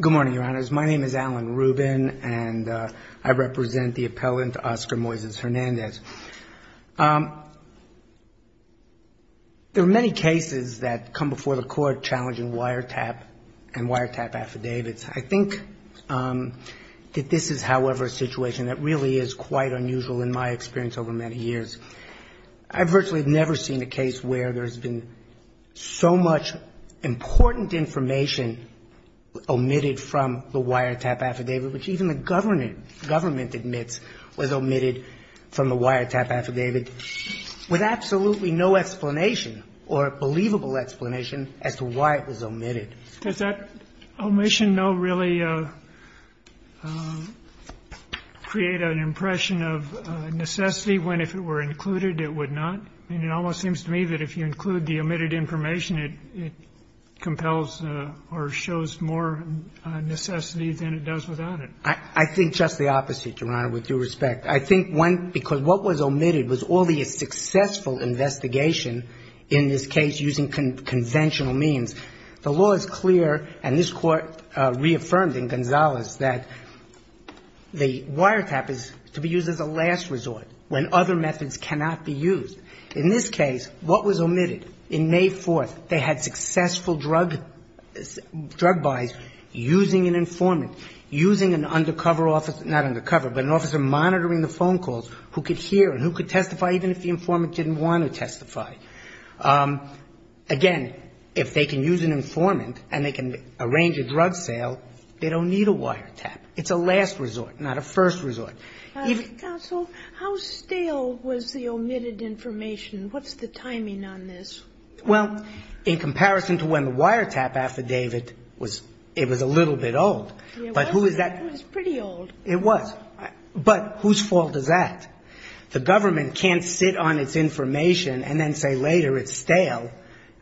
Good morning, Your Honors. My name is Alan Rubin, and I represent the appellant Oscar Moises Hernandez. There are many cases that come before the Court challenging wiretap and wiretap affidavits. I think that this is, however, a situation that really is quite unusual in my experience over many years. I've virtually never seen a case where there's been so much important information omitted from the wiretap affidavit, which even the government admits was omitted from the wiretap affidavit, with absolutely no explanation or believable explanation as to why it was omitted. Does that omission, though, really create an impression of necessity, when if it were included, it would not? I mean, it almost seems to me that if you include the omitted information, it compels or shows more necessity than it does without it. I think just the opposite, Your Honor, with due respect. I think, one, because what was omitted was all the successful investigation in this case using conventional means. The law is clear, and this Court reaffirmed in Gonzales that the wiretap is to be used as a last resort when other methods cannot be used. In this case, what was omitted? In May 4th, they had successful drug buys using an informant, using an undercover officer, not undercover, but an officer monitoring the phone calls, who could hear and who could testify even if the informant didn't want to testify. Again, if they can use an informant and they can arrange a drug sale, they don't need a wiretap. It's a last resort, not a first resort. So how stale was the omitted information? What's the timing on this? Well, in comparison to when the wiretap affidavit was – it was a little bit old. It was. But who is that? It was pretty old. It was. But whose fault is that? The government can't sit on its information and then say later it's stale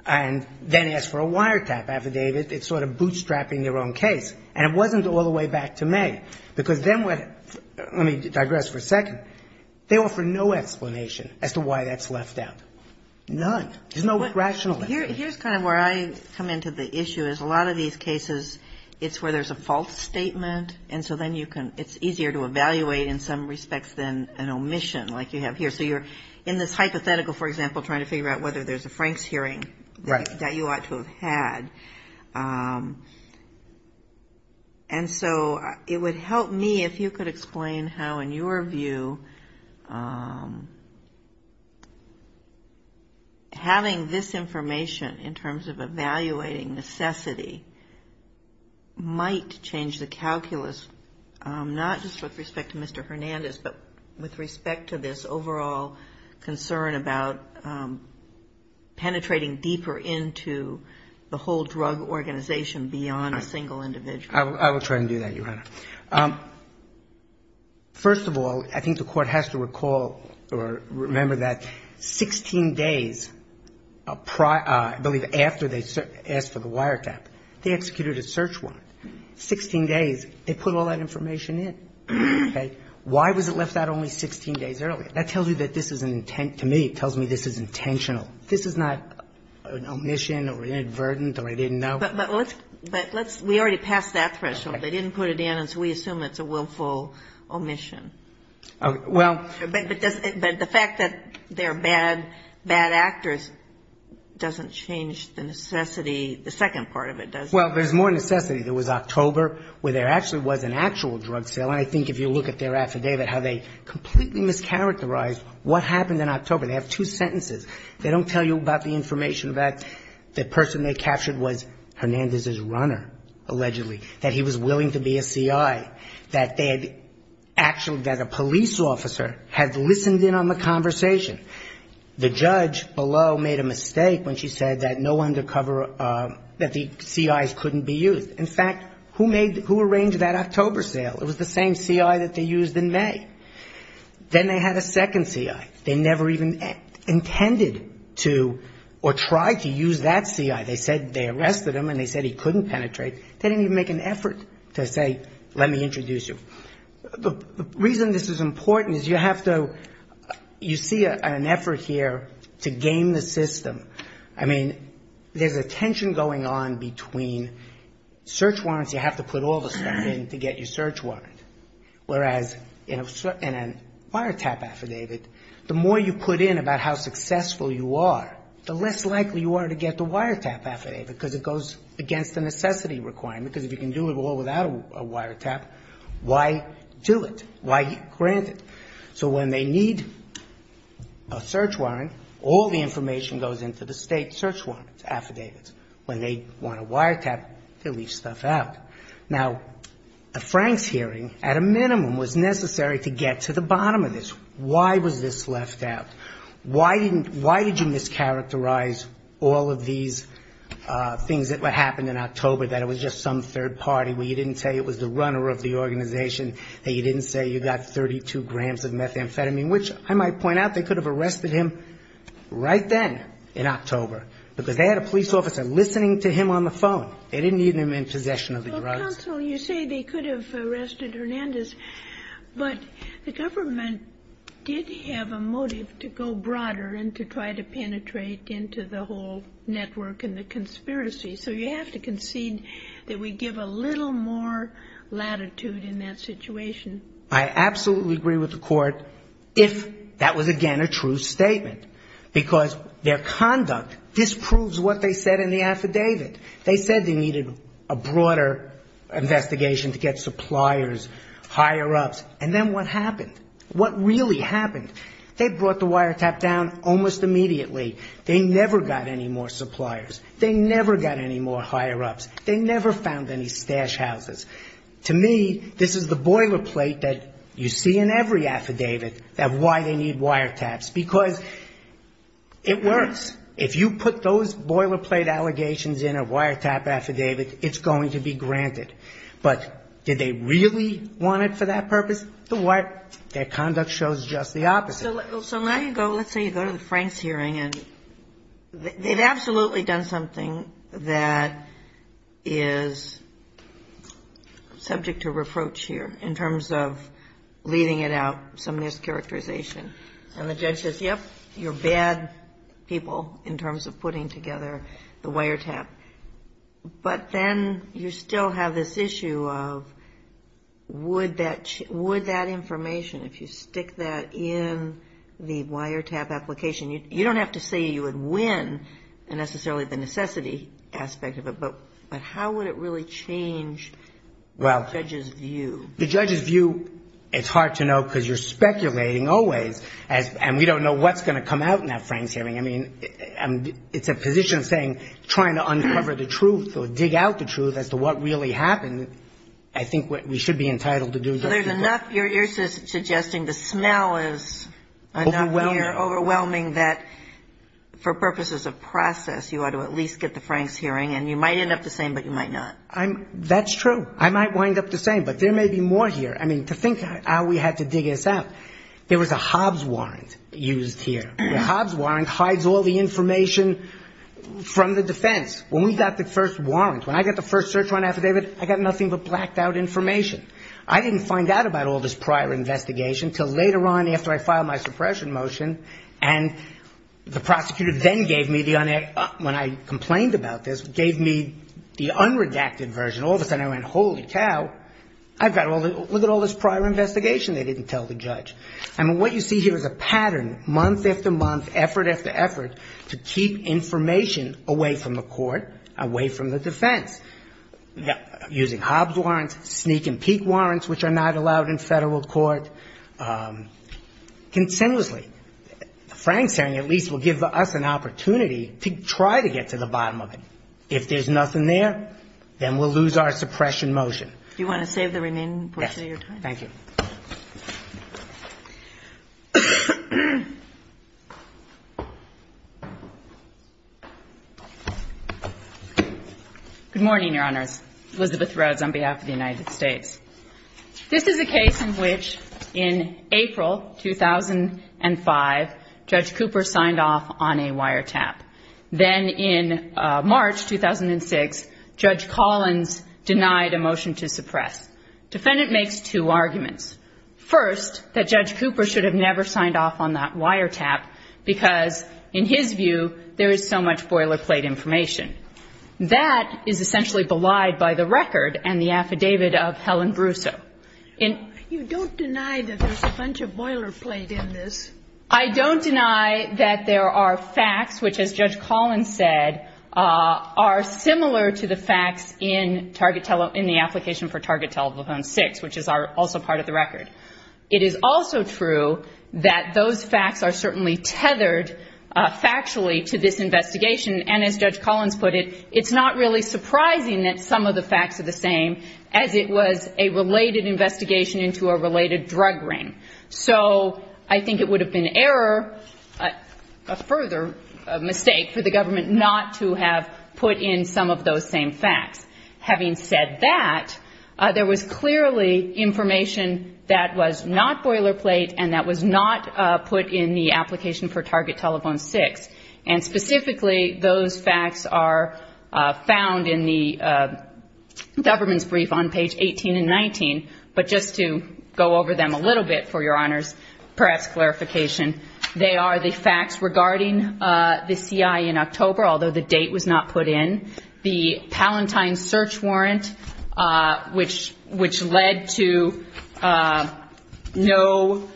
and then ask for a wiretap affidavit. It's sort of bootstrapping their own case. And it wasn't all the way back to May, because then what – let me digress for a second. They offer no explanation as to why that's left out. None. There's no rational explanation. Here's kind of where I come into the issue, is a lot of these cases, it's where there's a false statement, and so then you can – it's easier to evaluate in some respects than an omission like you have here. So you're in this hypothetical, for example, trying to figure out whether there's a Franks hearing that you ought to have had. And so it would help me if you could explain how, in your view, having this information in terms of evaluating necessity might change the calculus, not just with respect to Mr. Hernandez, but with respect to this the whole drug organization beyond a single individual. I will try to do that, Your Honor. First of all, I think the Court has to recall or remember that 16 days, I believe, after they asked for the wiretap, they executed a search warrant. Sixteen days, they put all that information in. Okay? Why was it left out only 16 days earlier? That tells you that this is an intent – to me, it tells me this is intentional. This is not an omission or inadvertent or I didn't know. But let's – we already passed that threshold. They didn't put it in, and so we assume it's a willful omission. Well – But the fact that they're bad, bad actors doesn't change the necessity, the second part of it, does it? Well, there's more necessity. There was October where there actually was an actual drug sale. And I think if you look at their affidavit, how they completely mischaracterized what happened in October. They have two sentences. They don't tell you about the information that the person they captured was Hernandez's runner, allegedly, that he was willing to be a C.I., that they had actually – that a police officer had listened in on the conversation. The judge below made a mistake when she said that no undercover – that the C.I.s couldn't be used. In fact, who made – who arranged that October sale? It was the same C.I. that they used in May. Then they had a second C.I. They never even intended to or tried to use that C.I. They said they arrested him, and they said he couldn't penetrate. They didn't even make an effort to say, let me introduce you. The reason this is important is you have to – you see an effort here to game the system. I mean, there's a tension going on between search warrants, you have to put all the stuff in to get your search warrant, whereas in a wiretap affidavit, the more you put in about how successful you are, the less likely you are to get the wiretap affidavit, because it goes against the necessity requirement, because if you can do it all without a wiretap, why do it? Why grant it? So when they need a search warrant, all the information goes into the State search warrant affidavits. When they want a wiretap, they leave stuff out. Now, a Franks hearing, at a minimum, was necessary to get to the bottom of this. Why was this left out? Why did you mischaracterize all of these things that happened in October, that it was just some third party where you didn't say it was the runner of the organization, that you didn't say you got 32 grams of methamphetamine, which I might point out, they could have arrested him right then in October, because they had a police officer listening to him on the phone. They didn't need him in possession of the drugs. Well, counsel, you say they could have arrested Hernandez, but the government did have a motive to go broader and to try to penetrate into the whole network and the conspiracy. So you have to concede that we give a little more latitude in that situation. I absolutely agree with the court if that was, again, a true statement. Because their conduct disproves what they said in the affidavit. They said they needed a broader investigation to get suppliers, higher-ups. And then what happened? What really happened? They brought the wiretap down almost immediately. They never got any more suppliers. They never got any more higher-ups. They never found any stash houses. To me, this is the boilerplate that you see in every affidavit of why they need wiretaps, because it works. If you put those boilerplate allegations in a wiretap affidavit, it's going to be granted. But did they really want it for that purpose? Their conduct shows just the opposite. So now you go, let's say you go to the Franks hearing, and they'd absolutely done something that is subject to reproach here in terms of leaving it out, some mischaracterization. And the judge says, yep, you're bad people in terms of putting together the wiretap. But then you still have this issue of would that information, if you stick that in the wiretap application, you don't have to say you would win necessarily the necessity aspect of it, but how would it really change the judge's view? The judge's view, it's hard to know because you're speculating always. And we don't know what's going to come out in that Franks hearing. I mean, it's a position of saying, trying to uncover the truth or dig out the truth as to what really happened, I think we should be entitled to do that. You're suggesting the smell is overwhelming, that for purposes of process, you ought to at least get the Franks hearing, and you might end up the same, but you might not. That's true. I might wind up the same, but there may be more here. I mean, to think how we had to dig this out, there was a Hobbs warrant used here. The Hobbs warrant hides all the information from the defense. When we got the first warrant, when I got the first search warrant affidavit, I got nothing but blacked out information. I didn't find out about all this prior investigation until later on after I filed my suppression motion, and the prosecutor then gave me, when I complained about this, gave me the unredacted version. All of a sudden I went, holy cow, look at all this prior investigation they didn't tell the judge. I mean, what you see here is a pattern, month after month, effort after effort, to keep information away from the court, away from the defense, using Hobbs warrants, sneak and peek warrants, which are not allowed in federal court, consensuously. The Franks hearing at least will give us an opportunity to try to get to the bottom of it. If there's nothing there, then we'll lose our suppression motion. Do you want to save the remaining portion of your time? Thank you. Good morning, Your Honors. Elizabeth Rhodes on behalf of the United States. This is a case in which in April 2005, Judge Cooper signed off on a wiretap. Then in March 2006, Judge Collins denied a motion to suppress. Defendant makes two arguments. First, that Judge Cooper should have never signed off on that wiretap, because in his view, there is so much boilerplate information. That is essentially belied by the record and the affidavit of Helen Brusso. You don't deny that there's a bunch of boilerplate in this. I don't deny that there are facts, which as Judge Collins said, are similar to the facts in the application for Target Telephone 6, which is also part of the record. It is also true that those facts are certainly tethered factually to this investigation. As Judge Collins put it, it's not really surprising that some of the facts are the same, as it was a related investigation into a related drug ring. I think it would have been error, a further mistake for the government not to have put in some of those same facts. Having said that, there was clearly information that was not boilerplate and that was not put in the application for Target Telephone 6. Specifically, those facts are found in the government's brief on page 18 and 19. But just to go over them a little bit for your honors, perhaps clarification, they are the facts regarding the CIA in October, although the date was not put in, the Palatine search warrant, which led to no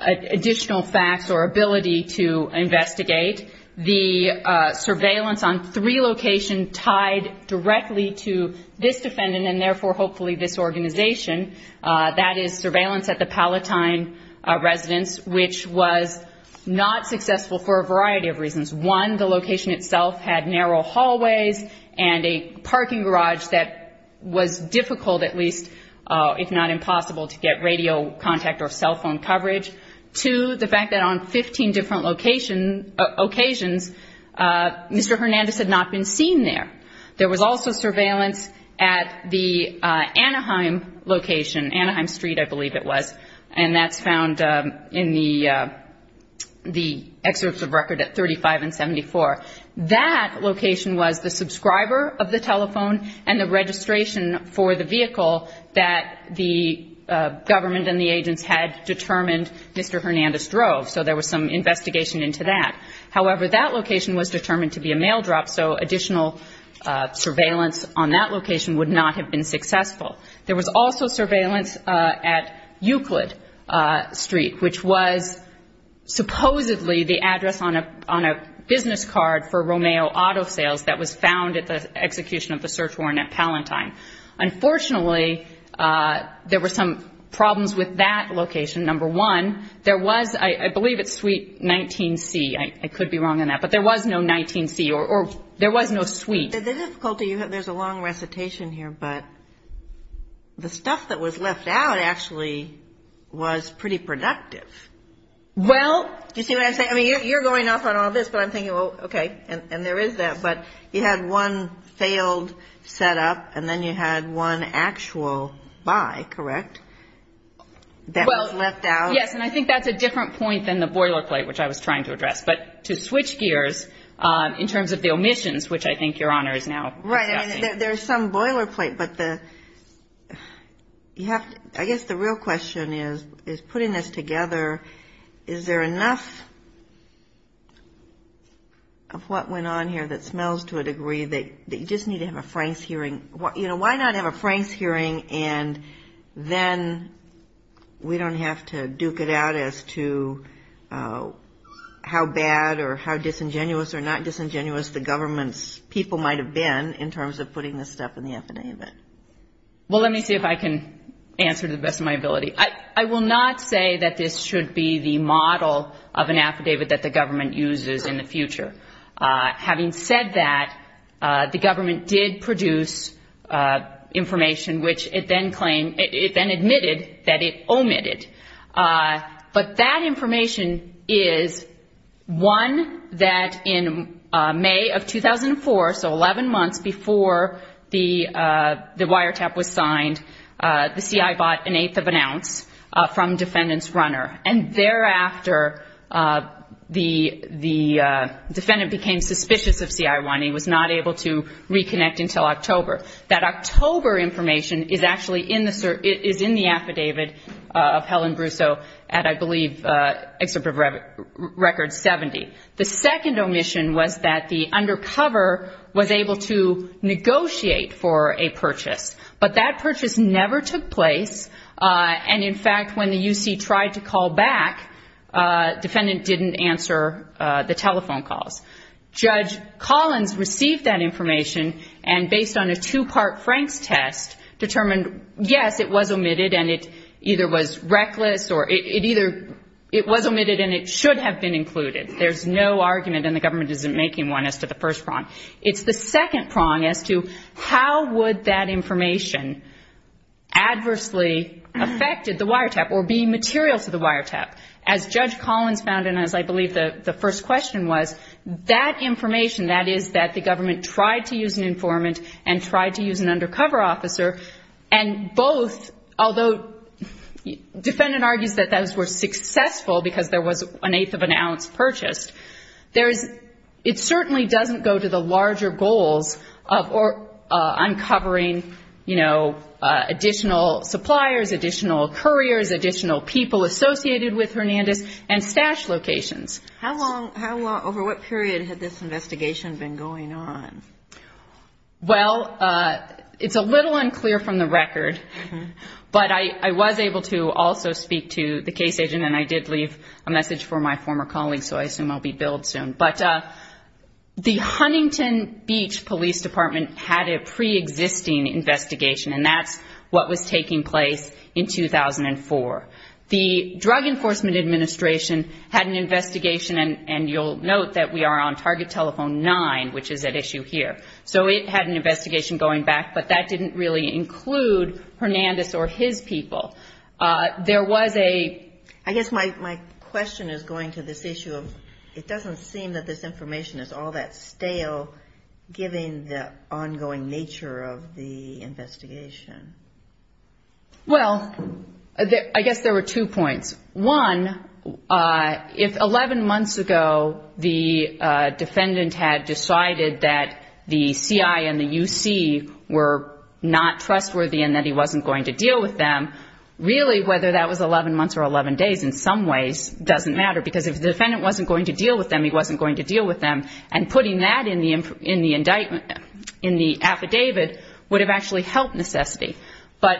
additional facts or ability to investigate, the surveillance on three locations tied directly to this defendant and therefore, hopefully, this organization. That is surveillance at the Palatine residence, which was not successful for a variety of reasons. One, the location itself had narrow hallways and a parking garage that was difficult, at least if not impossible, to get radio contact or cell phone coverage. Two, the fact that on 15 different locations, Mr. Hernandez had not been seen there. There was also surveillance at the Anaheim location, Anaheim Street, I believe it was, and that's found in the excerpts of record at 35 and 74. That location was the subscriber of the telephone and the registration for the vehicle that the government and the agents had determined Mr. Hernandez drove, so there was some investigation into that. However, that location was determined to be a mail drop, so additional surveillance on that location would not have been successful. There was also surveillance at Euclid Street, which was supposedly the address on a business card for Romeo Auto Sales that was found at the execution of the search warrant at Palatine. Unfortunately, there were some problems with that location. Number one, there was, I believe it's suite 19C. I could be wrong on that, but there was no 19C or there was no suite. The difficulty, there's a long recitation here, but the stuff that was left out actually was pretty productive. Do you see what I'm saying? I mean, you're going off on all this, but I'm thinking, well, okay, and there is that, but you had one failed setup, and then you had one actual buy, correct, that was left out? Yes, and I think that's a different point than the boilerplate, which I was trying to address, but to switch gears in terms of the omissions, which I think Your Honor is now discussing. Right. I mean, there's some boilerplate, but I guess the real question is, putting this together, is there enough of what went on here that smells to a degree that you just need to have a Franks hearing? Why not have a Franks hearing, and then we don't have to duke it out as to how bad or how disingenuous or not disingenuous the government's people might have been in terms of putting this stuff in the affidavit? Well, let me see if I can answer to the best of my ability. I will not say that this should be the model of an affidavit that the government uses in the future. Having said that, the government did produce information, which it then admitted that it omitted. But that information is one that in May of 2004, so 11 months before the wiretap was signed, the CI bought an eighth of an ounce from defendant's runner. And thereafter, the defendant became suspicious of CI1. He was not able to reconnect until October. That October information is actually in the affidavit of Helen Brussaux at, I believe, Excerpt of Record 70. The second omission was that the undercover was able to negotiate for a purchase. But that purchase never took place. And in fact, when the UC tried to call back, defendant didn't answer the telephone calls. Judge Collins received that information and based on a two-part Franks test determined, yes, it was omitted and it either was reckless or it either it was omitted and it should have been included. There's no argument and the government isn't making one as to the first prong. It's the second prong as to how would that wiretap. As Judge Collins found and as I believe the first question was, that information, that is, that the government tried to use an informant and tried to use an undercover officer, and both, although defendant argues that those were successful because there was an eighth of an ounce purchased, it certainly doesn't go to the larger goals of uncovering, you know, additional suppliers, additional couriers, additional people associated with Hernandez and stash locations. How long, over what period had this investigation been going on? Well, it's a little unclear from the record, but I was able to also speak to the case agent and I did leave a message for my former colleagues, so I assume I'll be billed soon. But the Huntington Beach Police Department had a pre-existing investigation and that's what was taking place in 2004. The Drug Enforcement Administration had an investigation and you'll note that we are on target telephone nine, which is at issue here. So it had an investigation going back, but that didn't really include Hernandez or his people. There was a... I guess my question is going to this issue of it doesn't seem that this information is all that stale, given the ongoing nature of the investigation. Well, I guess there were two points. One, if 11 months ago the defendant had decided that the CI and the UC were not trustworthy and that he wasn't going to deal with them, really whether that was 11 months or 11 days in some ways doesn't matter, because if the defendant wasn't going to deal with them, he wasn't going to deal with them. And putting that in the indictment, in the affidavit, would have actually helped necessity. But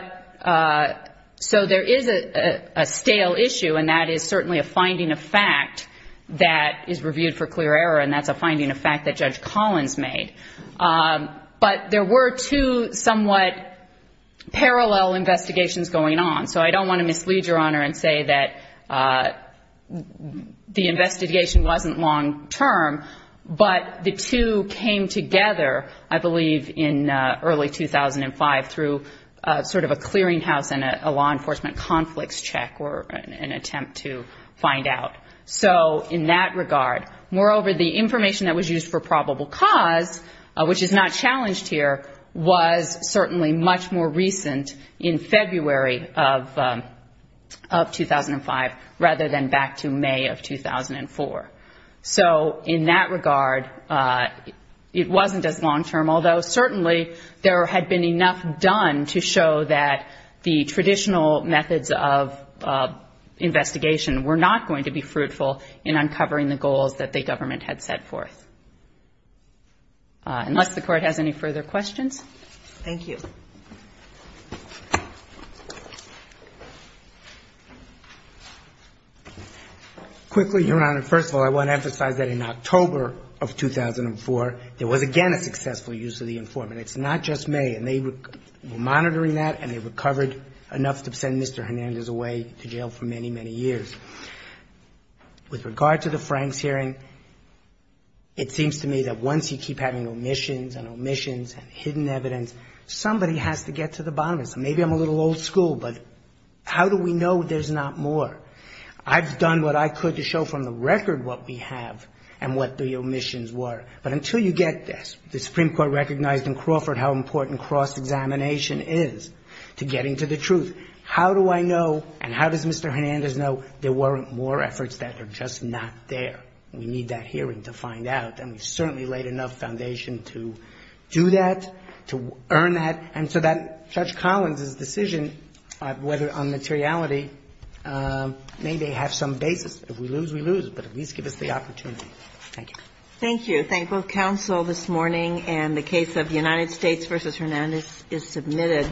so there is a stale issue and that is certainly a finding of fact that is reviewed for clear error and that's a finding of fact that Judge Collins made. But there were two somewhat parallel investigations going on. So I wasn't long-term, but the two came together, I believe, in early 2005 through sort of a clearing house and a law enforcement conflicts check or an attempt to find out. So in that regard, moreover, the information that was used for probable cause, which is not challenged here, was certainly much more recent in February of 2005 rather than back to May of 2004. So in that regard, it wasn't as long-term, although certainly there had been enough done to show that the traditional methods of investigation were not going to be fruitful in uncovering the goals that the government had set forth. Unless the Court has any further questions. Thank you. Quickly, Your Honor, first of all, I want to emphasize that in October of 2004, there was again a successful use of the informant. It's not just May. And they were monitoring that and they recovered enough to send Mr. Hernandez away to jail for many, many years. With regard to the Franks hearing, it seems to me that once you keep having omissions and omissions and hidden evidence, somebody has to get to the bottom of it. So maybe I'm a little old school, but how do we know there's not more? I've done what I could to show from the record what we have and what the omissions were. But until you get this, the Supreme Court recognized in Crawford how important cross-examination is to getting to the truth. How do I know and how does Mr. Hernandez know there weren't more efforts that are just not there? We need that hearing to do that, to earn that, and so that Judge Collins' decision whether on materiality may have some basis. If we lose, we lose, but at least give us the opportunity. Thank you. Thank you. Thank both counsel this morning and the case of United States v. Hernandez is submitted.